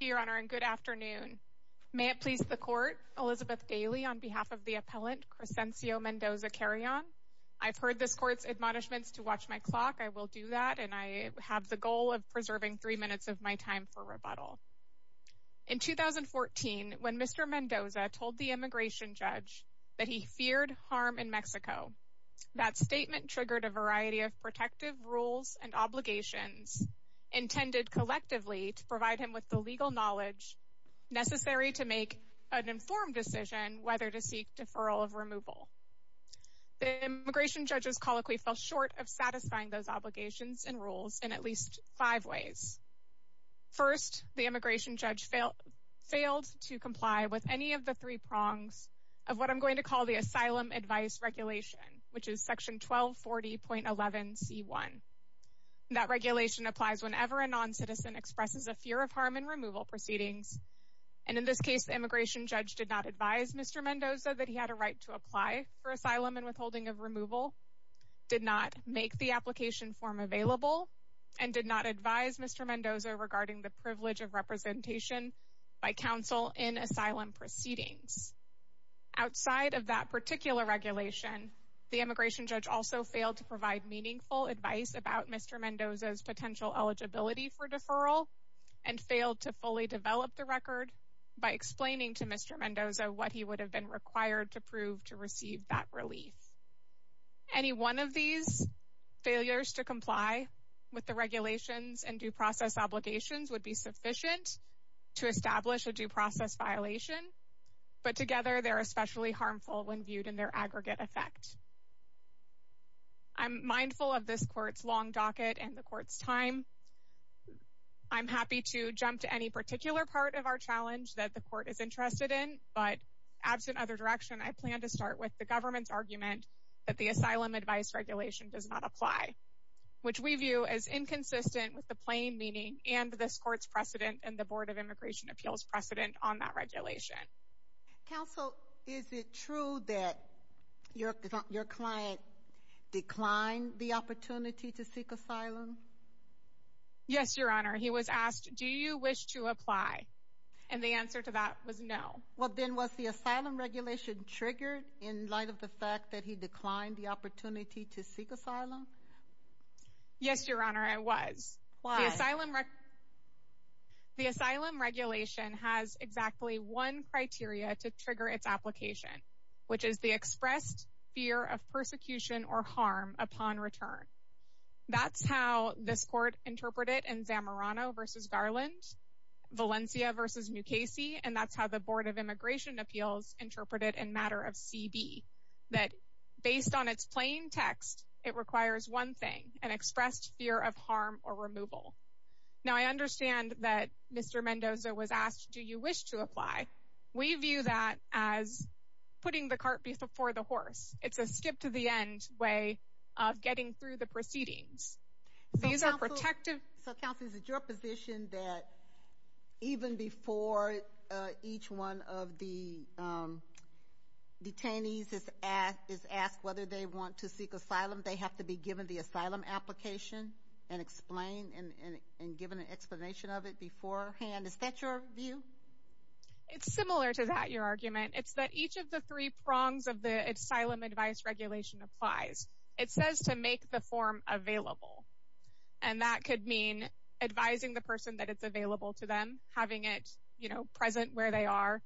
May it please the Court, Elizabeth Daly on behalf of the Appellant Crescencio Mendoza Carrion. I've heard this Court's admonishments to watch my clock. I will do that and I have the goal of preserving three minutes of my time for rebuttal. In 2014, when Mr. Mendoza told the immigration judge that he feared harm in Mexico, that statement triggered a with the legal knowledge necessary to make an informed decision whether to seek deferral of removal. The immigration judge's colloquy fell short of satisfying those obligations and rules in at least five ways. First, the immigration judge failed to comply with any of the three prongs of what I'm going to call the Asylum Advice Regulation, which is Section 1240.11c1. That regulation applies whenever a non-citizen expresses a fear of harm in removal proceedings. And in this case, the immigration judge did not advise Mr. Mendoza that he had a right to apply for asylum and withholding of removal, did not make the application form available, and did not advise Mr. Mendoza regarding the privilege of representation by counsel in asylum proceedings. Outside of that particular regulation, the immigration judge also failed to provide meaningful advice about Mr. Mendoza's potential eligibility for deferral and failed to fully develop the record by explaining to Mr. Mendoza what he would have been required to prove to receive that relief. Any one of these failures to comply with the regulations and due process obligations would be sufficient to establish a due process violation, but together they're especially harmful when viewed in their aggregate effect. I'm mindful of this court's long docket and the court's time. I'm happy to jump to any particular part of our challenge that the court is interested in, but absent other direction, I plan to start with the government's argument that the Asylum Advice Regulation does not apply, which we view as inconsistent with the plain meaning and this court's precedent and the Board of Immigration Appeals precedent on that regulation. Counsel, is it true that your client declined the opportunity to seek asylum? Yes, Your Honor. He was asked, do you wish to apply? And the answer to that was no. Well, then was the asylum regulation triggered in light of the fact that he declined the opportunity to seek asylum? Yes, Your Honor, I was. The asylum regulation has exactly one criteria to trigger its application, which is the expressed fear of persecution or harm upon return. That's how this court interpreted in Zamorano v. Garland, Valencia v. Mukasey, and that's how the Board of Immigration applies one thing, an expressed fear of harm or removal. Now, I understand that Mr. Mendoza was asked, do you wish to apply? We view that as putting the cart before the horse. It's a skip to the end way of getting through the proceedings. These are protective... So, counsel, is it your position that even before each one of the detainees is asked whether they want to seek asylum, they have to be given the asylum application and explained and given an explanation of it beforehand? Is that your view? It's similar to that, Your Argument. It's that each of the three prongs of the asylum advice regulation applies. It says to make the form available, and that could mean advising the person that it's available to them, having it, you know, present where they are,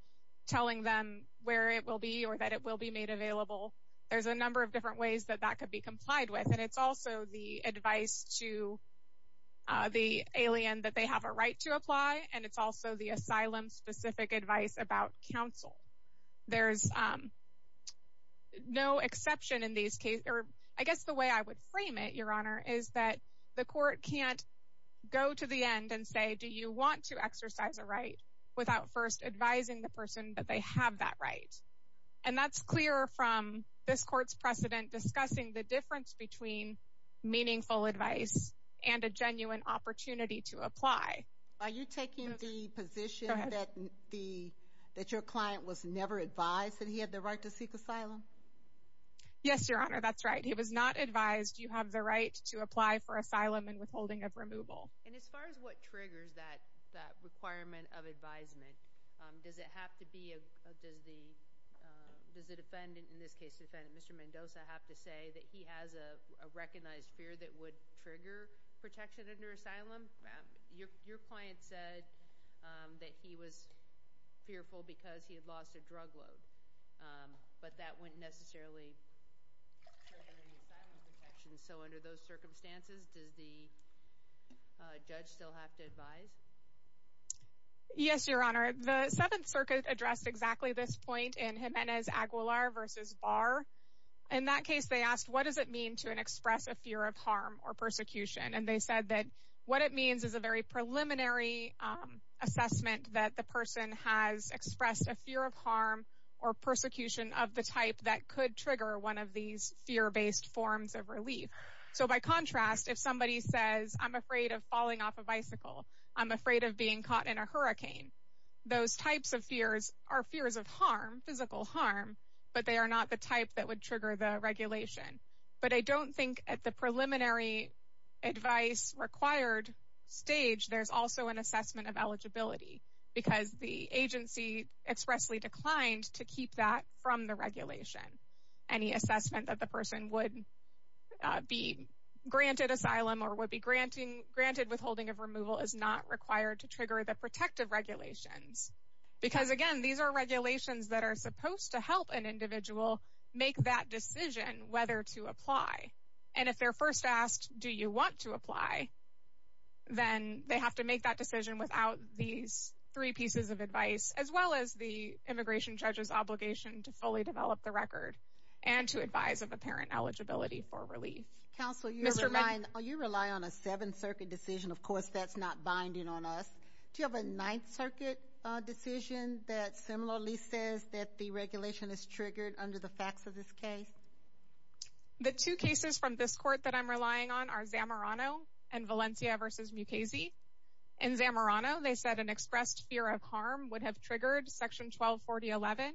telling them where it will be or that it will be made available. There's a number of different ways that that could be complied with, and it's also the advice to the alien that they have a right to apply, and it's also the asylum-specific advice about counsel. There's no exception in these cases. I guess the way I would frame it, Your Honor, is that the court can't go to the end and say, do you want to exercise a right without first advising the person that they have that right? And that's clear from this court's precedent discussing the difference between meaningful advice and a genuine opportunity to apply. Are you taking the position that your client was never advised that he had the right to seek asylum? Yes, Your Honor, that's right. He was not advised you have the right to apply for asylum and withholding of removal. And as far as what triggers that requirement of advisement, does it have to be—does the defendant, in this case the defendant, Mr. Mendoza, have to say that he has a recognized fear that would trigger protection under asylum? Your client said that he was fearful because he had lost a drug load, but that wouldn't necessarily trigger the asylum protection. And so under those circumstances, does the judge still have to advise? Yes, Your Honor. The Seventh Circuit addressed exactly this point in Jimenez-Aguilar v. Barr. In that case, they asked, what does it mean to express a fear of harm or persecution? And they said that what it means is a very preliminary assessment that the person has expressed a fear of harm or persecution of the type that could trigger one of these fear-based forms of relief. So, by contrast, if somebody says, I'm afraid of falling off a bicycle, I'm afraid of being caught in a hurricane, those types of fears are fears of harm, physical harm, but they are not the type that would trigger the regulation. But I don't think at the preliminary advice required stage, there's also an assessment of eligibility because the agency expressly declined to keep that from the regulation. Any assessment that the person would be granted asylum or would be granted withholding of removal is not required to trigger the protective regulations. Because, again, these are regulations that are supposed to help an individual make that decision whether to apply. And if they're first asked, do you want to apply, then they have to make that decision without these three pieces of advice, as well as the immigration judge's obligation to fully develop the record and to advise of apparent eligibility for relief. Counsel, you rely on a Seventh Circuit decision. Of course, that's not binding on us. Do you have a Ninth Circuit decision that similarly says that the regulation is triggered under the facts of this case? The two cases from this court that I'm relying on are Zamorano and Valencia v. Mukasey. In Zamorano, they said an expressed fear of harm would have triggered Section 1240.11.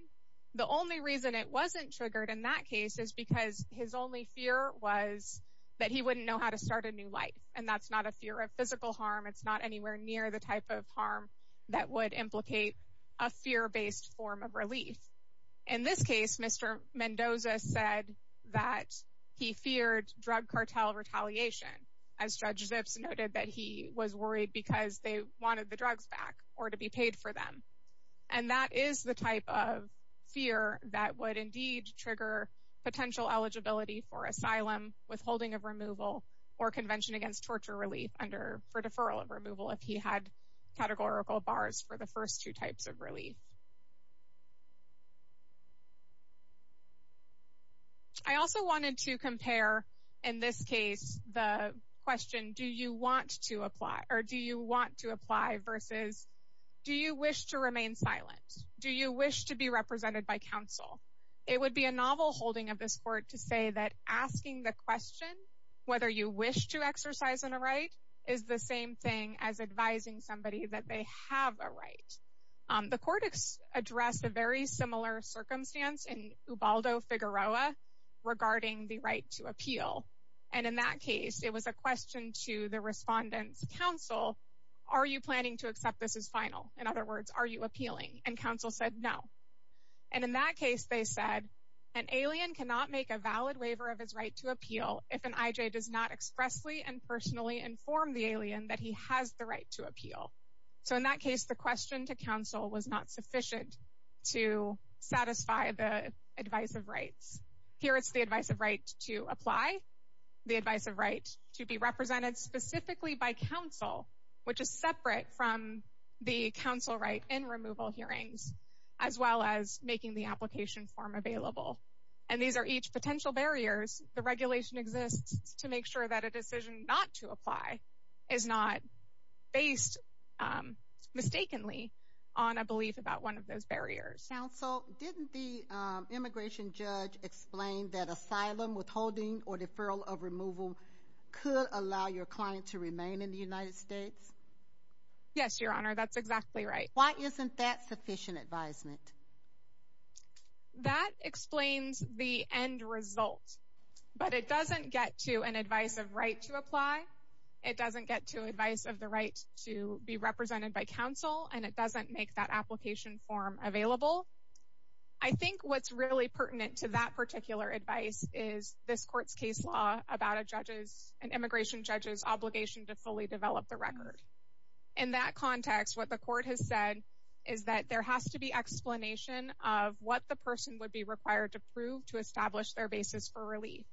The only reason it wasn't triggered in that case is because his only fear was that he wouldn't know how to start a new life. And that's not a fear of physical harm. It's not anywhere near the type of harm that would implicate a fear-based form of relief. In this case, Mr. Mendoza said that he feared drug cartel retaliation, as Judge Zips noted that he was worried because they wanted the drugs back or to be paid for them. And that is the type of fear that would indeed trigger potential eligibility for asylum, withholding of removal, or Convention Against Torture relief for deferral of removal if he had categorical bars for the first two types of relief. I also wanted to compare, in this case, the question, do you want to apply versus do you wish to remain silent? Do you wish to be represented by counsel? It would be a novel holding of this court to say that asking the question whether you wish to exercise a right is the same thing as advising somebody that they have a right. The court addressed a very similar circumstance in Ubaldo Figueroa regarding the right to appeal. And in that case, it was a question to the respondent's counsel, are you planning to accept this as final? In other words, are you appealing? And counsel said no. And in that case, they said, an alien cannot make a valid waiver of his right to appeal if an IJ does not expressly and personally inform the alien that he has the right to appeal. So in that case, the question to counsel was not sufficient to satisfy the advice of rights. Here it's the advice of right to apply, the advice of right to be represented specifically by counsel, which is separate from the counsel right in removal hearings, as well as making the application form available. And these are each potential barriers. The regulation exists to make sure that a decision not to apply is not based mistakenly on a belief about one of those barriers. Counsel, didn't the immigration judge explain that asylum, withholding, or deferral of removal could allow your client to remain in the United States? Yes, Your Honor, that's exactly right. Why isn't that sufficient advisement? That explains the end result. But it doesn't get to an advice of right to apply, it doesn't get to advice of the right to be represented by counsel, and it doesn't make that application form available. I think what's really pertinent to that particular advice is this court's case law about an immigration judge's obligation to fully develop the record. In that context, what the court has said is that there has to be explanation of what the person would be required to prove to establish their basis for relief.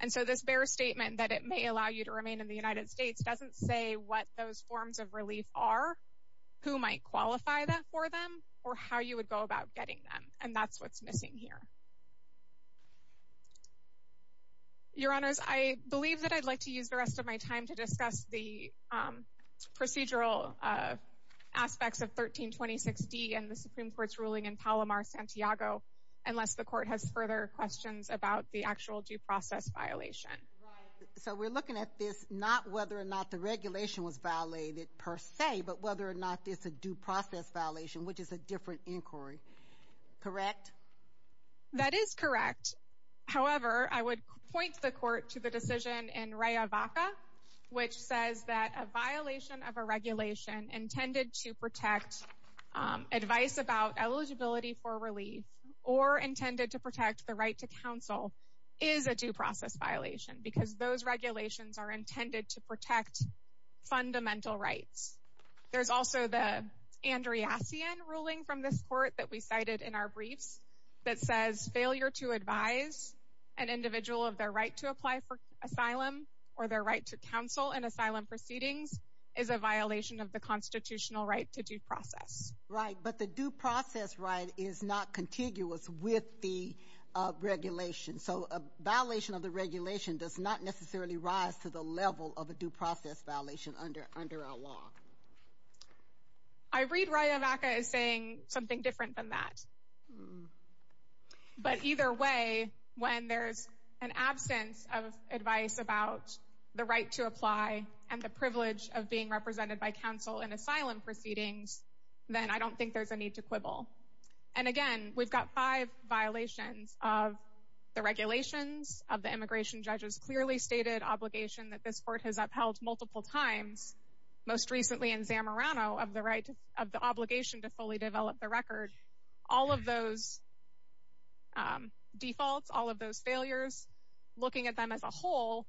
And so this bare statement that it may allow you to remain in the United States doesn't say what those forms of relief are, who might qualify that for them, or how you would go about getting them. And that's what's missing here. Your Honors, I believe that I'd like to use the rest of my time to discuss the procedural aspects of 1326D and the Supreme Court's ruling in Palomar-Santiago, unless the court has further questions about the actual due process violation. Right. So we're looking at this not whether or not the regulation was violated per se, but whether or not it's a due process violation, which is a different inquiry. Correct? That is correct. However, I would point the court to the decision in Raya Vaca, which says that a violation of a regulation intended to protect advice about eligibility for relief or intended to protect the right to counsel is a due process violation, because those regulations are intended to protect fundamental rights. There's also the Andreacian ruling from this court that we cited in our briefs that says failure to advise an individual of their right to apply for asylum or their right to counsel in asylum proceedings is a violation of the constitutional right to due process. Right, but the due process right is not contiguous with the regulation. So a violation of the regulation does not necessarily rise to the level of a due process violation under our law. I read Raya Vaca as saying something different than that. But either way, when there's an absence of advice about the right to apply and the privilege of being represented by counsel in asylum proceedings, then I don't think there's a need to quibble. And again, we've got five violations of the regulations of the immigration judges, clearly stated obligation that this court has upheld multiple times, most recently in Zamorano of the obligation to fully develop the record. All of those defaults, all of those failures, looking at them as a whole,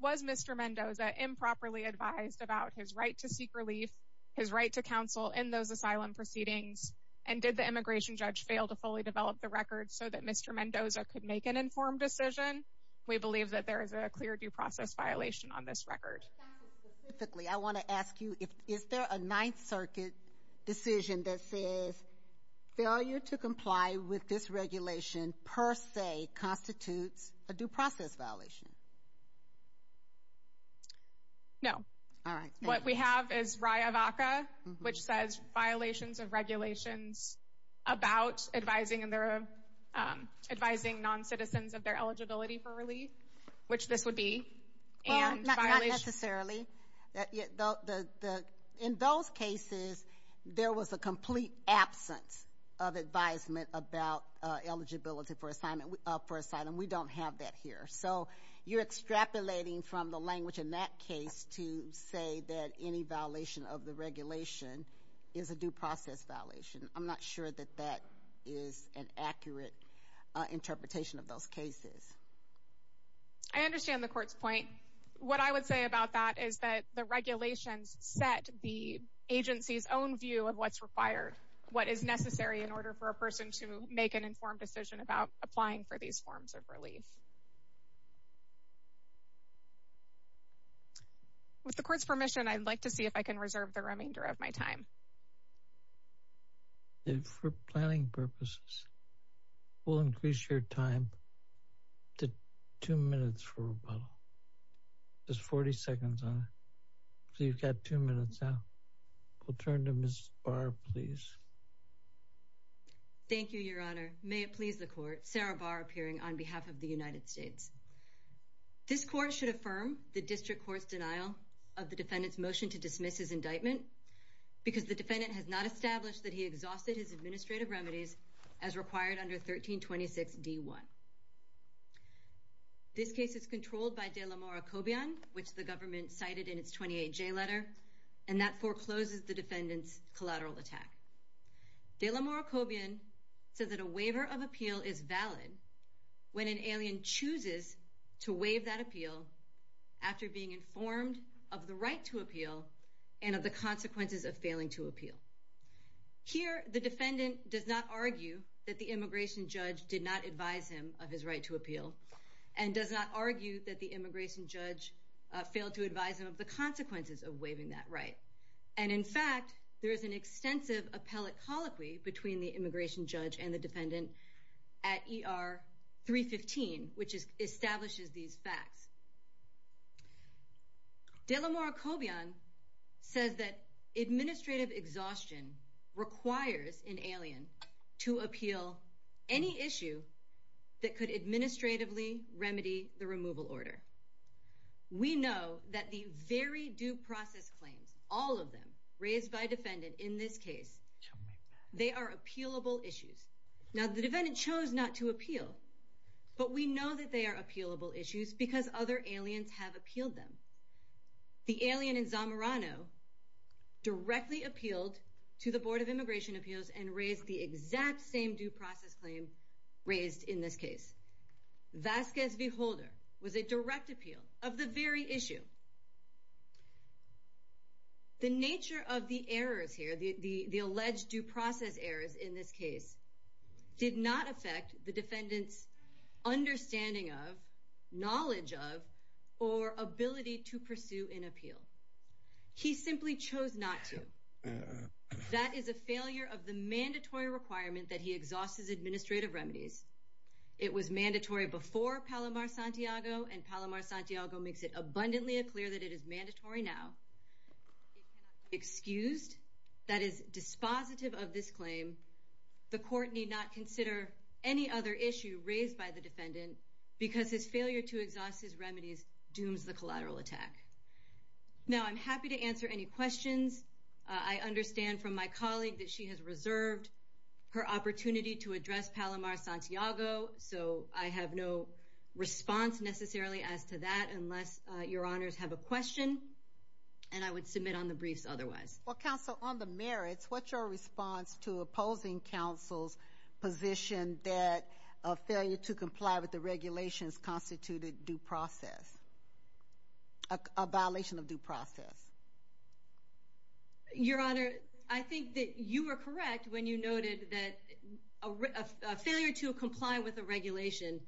was Mr. Mendoza improperly advised about his right to seek relief, his right to counsel in those asylum proceedings, and did the immigration judge fail to fully develop the record so that Mr. Mendoza could make an informed decision? We believe that there is a clear due process violation on this record. Specifically, I want to ask you, is there a Ninth Circuit decision that says failure to comply with this regulation per se constitutes a due process violation? No. All right. What we have is RIAVACA, which says violations of regulations about advising non-citizens of their eligibility for relief, which this would be. Well, not necessarily. In those cases, there was a complete absence of advisement about eligibility for asylum. We don't have that here. So you're extrapolating from the language in that case to say that any violation of the regulation is a due process violation. I'm not sure that that is an accurate interpretation of those cases. I understand the Court's point. What I would say about that is that the regulations set the agency's own view of what's required, what is necessary in order for a person to make an informed decision about applying for these forms of relief. With the Court's permission, I'd like to see if I can reserve the remainder of my time. For planning purposes, we'll increase your time to two minutes for rebuttal. There's 40 seconds on it, so you've got two minutes now. We'll turn to Ms. Barr, please. Thank you, Your Honor. May it please the Court, Sarah Barr appearing on behalf of the United States. This Court should affirm the District Court's denial of the defendant's motion to dismiss his indictment because the defendant has not established that he exhausted his administrative remedies as required under 1326 D.1. This case is controlled by de la Morrocobian, which the government cited in its 28J letter, and that forecloses the defendant's collateral attack. De la Morrocobian says that a waiver of appeal is valid when an alien chooses to waive that appeal after being informed of the right to appeal and of the consequences of failing to appeal. Here, the defendant does not argue that the immigration judge did not advise him of his right to appeal and does not argue that the immigration judge failed to advise him of the consequences of waiving that right. And in fact, there is an extensive appellate colloquy between the immigration judge and the defendant at ER 315, which establishes these facts. De la Morrocobian says that administrative exhaustion requires an alien to appeal any issue that could administratively remedy the removal order. We know that the very due process claims, all of them, raised by defendant in this case, they are appealable issues. Now, the defendant chose not to appeal, but we know that they are appealable issues because other aliens have appealed them. The alien in Zamorano directly appealed to the Board of Immigration Appeals and raised the exact same due process claim raised in this case. Vasquez v. Holder was a direct appeal of the very issue. The nature of the errors here, the alleged due process errors in this case, did not affect the defendant's understanding of, knowledge of, or ability to pursue an appeal. He simply chose not to. That is a failure of the mandatory requirement that he exhausts his administrative remedies. It was mandatory before Palomar-Santiago, and Palomar-Santiago makes it abundantly clear that it is mandatory now. It cannot be excused. That is dispositive of this claim. The court need not consider any other issue raised by the defendant because his failure to exhaust his remedies dooms the collateral attack. Now, I'm happy to answer any questions. I understand from my colleague that she has reserved her opportunity to address Palomar-Santiago, so I have no response necessarily as to that unless Your Honors have a question, and I would submit on the briefs otherwise. Well, Counsel, on the merits, what's your response to opposing counsel's position that a failure to comply with the regulations constituted due process, a violation of due process? Your Honor, I think that you were correct when you noted that a failure to comply with a regulation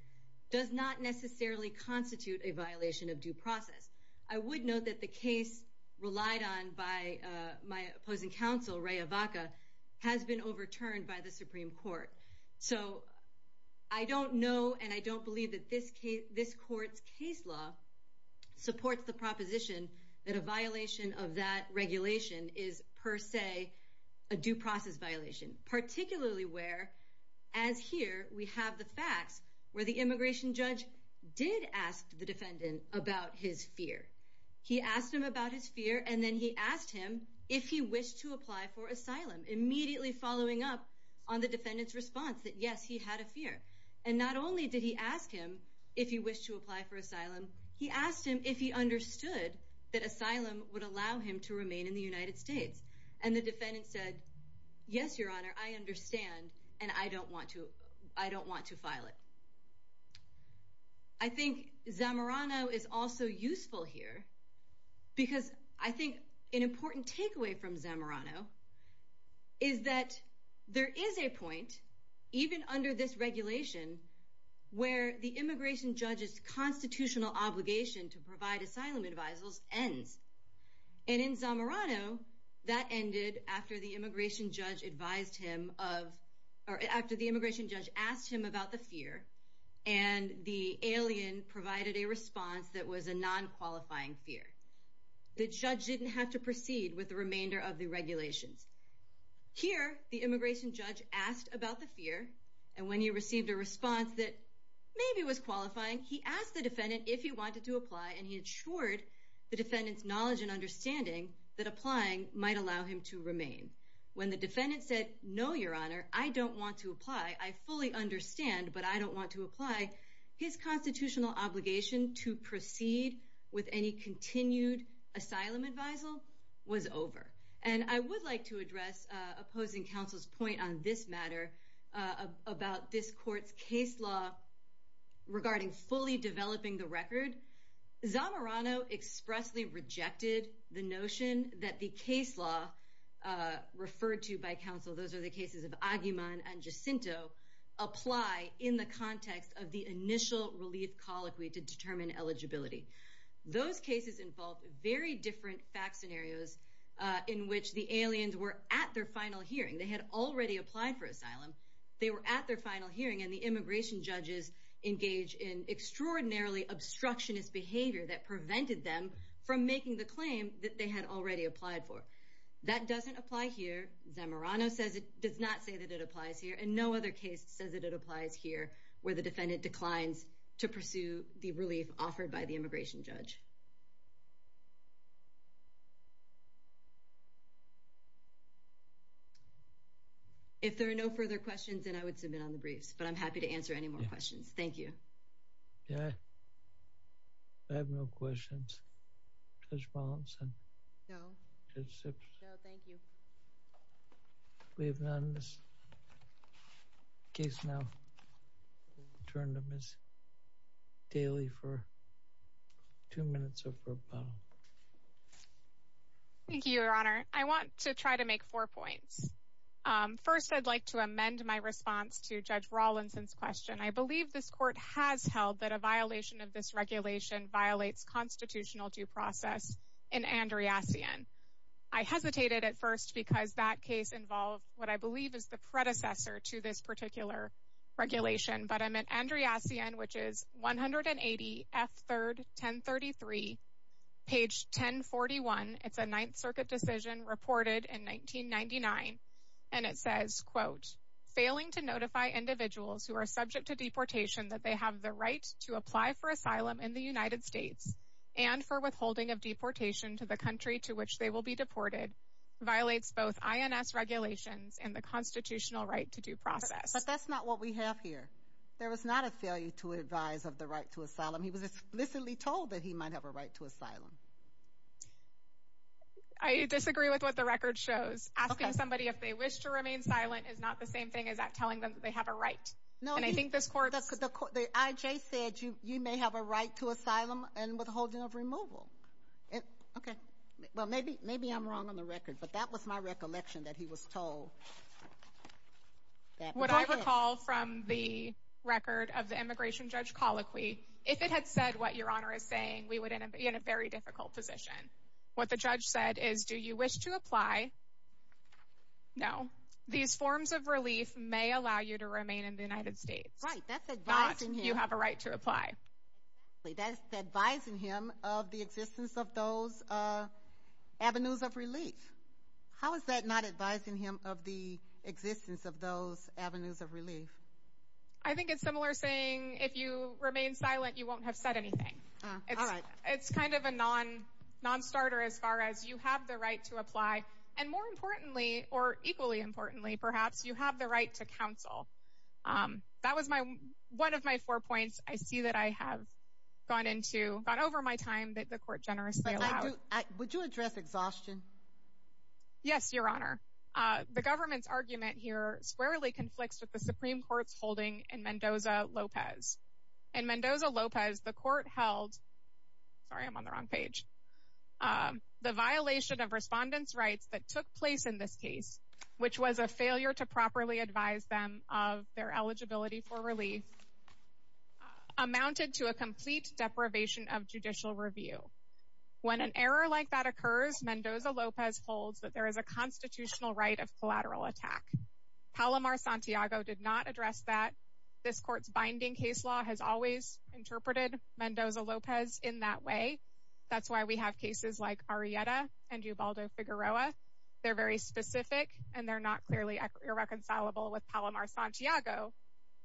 does not necessarily constitute a violation of due process. I would note that the case relied on by my opposing counsel, Ray Avaca, has been overturned by the Supreme Court. So I don't know and I don't believe that this court's case law supports the proposition that a violation of that regulation is per se a due process violation, particularly where, as here, we have the facts where the immigration judge did ask the defendant about his fear. He asked him about his fear, and then he asked him if he wished to apply for asylum, immediately following up on the defendant's response that, yes, he had a fear. And not only did he ask him if he wished to apply for asylum, he asked him if he understood that asylum would allow him to remain in the United States. And the defendant said, yes, Your Honor, I understand, and I don't want to file it. I think Zamorano is also useful here because I think an important takeaway from Zamorano is that there is a point, even under this regulation, where the immigration judge's constitutional obligation to provide asylum advisals ends. And in Zamorano, that ended after the immigration judge asked him about the fear, and the alien provided a response that was a non-qualifying fear. The judge didn't have to proceed with the remainder of the regulations. Here, the immigration judge asked about the fear, and when he received a response that maybe was qualifying, he asked the defendant if he wanted to apply, and he ensured the defendant's knowledge and understanding that applying might allow him to remain. When the defendant said, no, Your Honor, I don't want to apply. I fully understand, but I don't want to apply. His constitutional obligation to proceed with any continued asylum advisal was over. And I would like to address opposing counsel's point on this matter, about this court's case law regarding fully developing the record. Zamorano expressly rejected the notion that the case law referred to by counsel, those are the cases of Aguiman and Jacinto, apply in the context of the initial relief colloquy to determine eligibility. Those cases involved very different fact scenarios in which the aliens were at their final hearing. They had already applied for asylum. They were at their final hearing, and the immigration judges engaged in extraordinarily obstructionist behavior that prevented them from making the claim that they had already applied for. That doesn't apply here. Zamorano does not say that it applies here. And no other case says that it applies here, where the defendant declines to pursue the relief offered by the immigration judge. If there are no further questions, then I would submit on the briefs, but I'm happy to answer any more questions. Thank you. Yeah. I have no questions. Judge Rawlinson? No. Judge Sips? No, thank you. We have none in this case now. We'll return to Ms. Daly for two minutes or for a bow. Thank you, Your Honor. I want to try to make four points. First, I'd like to amend my response to Judge Rawlinson's question. I believe this court has held that a violation of this regulation violates constitutional due process in Andreassian. I hesitated at first because that case involved what I believe is the predecessor to this particular regulation, but I meant Andreassian, which is 180 F. 3rd, 1033, page 1041. It's a Ninth Circuit decision reported in 1999, and it says, quote, failing to notify individuals who are subject to deportation that they have the right to apply for asylum in the United States and for withholding of deportation to the country to which they will be deported violates both INS regulations and the constitutional right to due process. But that's not what we have here. There was not a failure to advise of the right to asylum. He was explicitly told that he might have a right to asylum. I disagree with what the record shows. Asking somebody if they wish to remain silent is not the same thing as telling them that they have a right. And I think this court— The I.J. said you may have a right to asylum and withholding of removal. Well, maybe I'm wrong on the record, but that was my recollection that he was told. What I recall from the record of the immigration judge colloquy, if it had said what Your Honor is saying, we would be in a very difficult position. What the judge said is do you wish to apply? No. These forms of relief may allow you to remain in the United States. Right. That's advising him. Not you have a right to apply. Exactly. That's advising him of the existence of those avenues of relief. How is that not advising him of the existence of those avenues of relief? I think it's similar saying if you remain silent, you won't have said anything. All right. It's kind of a nonstarter as far as you have the right to apply. And more importantly, or equally importantly perhaps, you have the right to counsel. That was one of my four points I see that I have gone into, gone over my time that the court generously allowed. Would you address exhaustion? Yes, Your Honor. The government's argument here squarely conflicts with the Supreme Court's holding in Mendoza-Lopez. In Mendoza-Lopez, the court held, sorry, I'm on the wrong page, the violation of respondents' rights that took place in this case, which was a failure to properly advise them of their eligibility for relief, amounted to a complete deprivation of judicial review. When an error like that occurs, Mendoza-Lopez holds that there is a constitutional right of collateral attack. Palomar-Santiago did not address that. This court's binding case law has always interpreted Mendoza-Lopez in that way. That's why we have cases like Arrieta and Ubaldo-Figueroa. They're very specific, and they're not clearly irreconcilable with Palomar-Santiago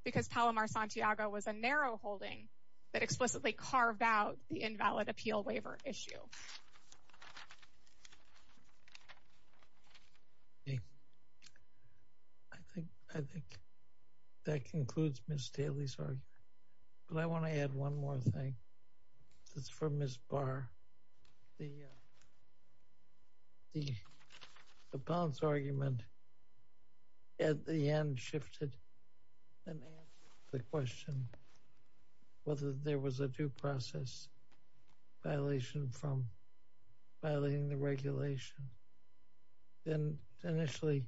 because Palomar-Santiago was a narrow holding that explicitly carved out the invalid appeal waiver issue. I think that concludes Ms. Daley's argument. But I want to add one more thing. This is for Ms. Barr. The Palomar-Santiago argument at the end shifted and asked the question whether there was a due process violation from violating the regulation. And initially,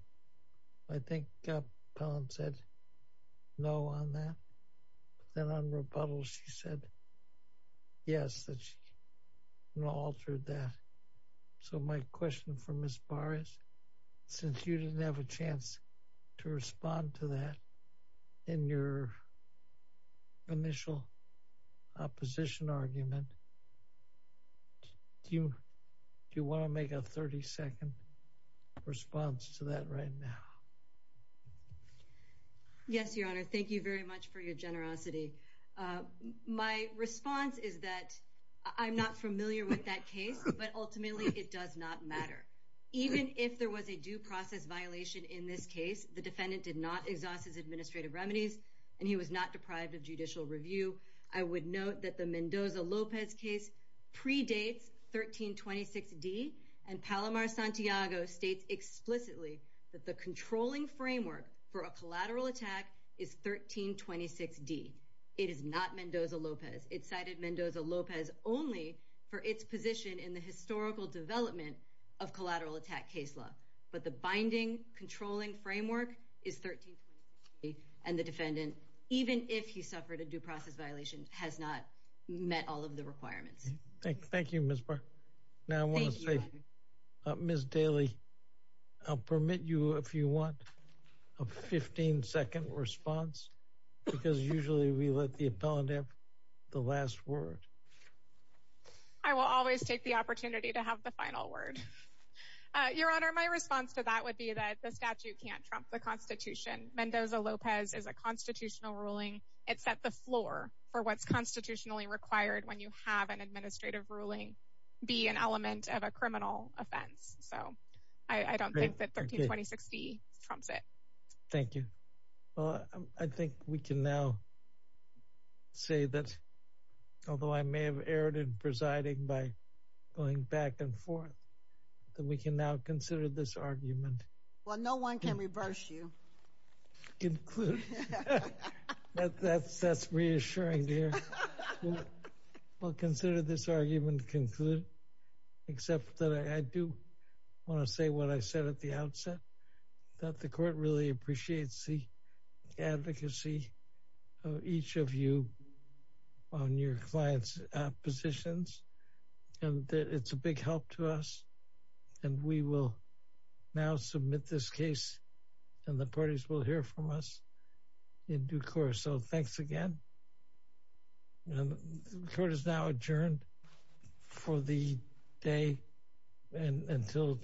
I think Palomar-Santiago said no on that. Then on rebuttal, she said yes, that she altered that. So my question for Ms. Barr is, since you didn't have a chance to respond to that in your initial opposition argument, do you want to make a 30-second response to that right now? Yes, Your Honor. Thank you very much for your generosity. My response is that I'm not familiar with that case, but ultimately it does not matter. Even if there was a due process violation in this case, the defendant did not exhaust his administrative remedies, and he was not deprived of judicial review. I would note that the Mendoza-Lopez case predates 1326D, and Palomar-Santiago states explicitly that the controlling framework for a collateral attack is 1326D. It is not Mendoza-Lopez. It cited Mendoza-Lopez only for its position in the historical development of collateral attack case law. But the binding, controlling framework is 1326D, and the defendant, even if he suffered a due process violation, has not met all of the requirements. Thank you, Ms. Barr. Now, I want to say, Ms. Daly, I'll permit you, if you want, a 15-second response, because usually we let the appellant have the last word. I will always take the opportunity to have the final word. Your Honor, my response to that would be that the statute can't trump the Constitution. Mendoza-Lopez is a constitutional ruling. It's at the floor for what's constitutionally required when you have an administrative ruling be an element of a criminal offense. So I don't think that 1326D trumps it. Thank you. Well, I think we can now say that, although I may have erred in presiding by going back and forth, that we can now consider this argument. Well, no one can reverse you. Conclude. That's reassuring to hear. We'll consider this argument concluded, except that I do want to say what I said at the outset, that the Court really appreciates the advocacy of each of you on your clients' positions, and that it's a big help to us. And we will now submit this case, and the parties will hear from us in due course. So thanks again. The Court is now adjourned for the day until tomorrow morning.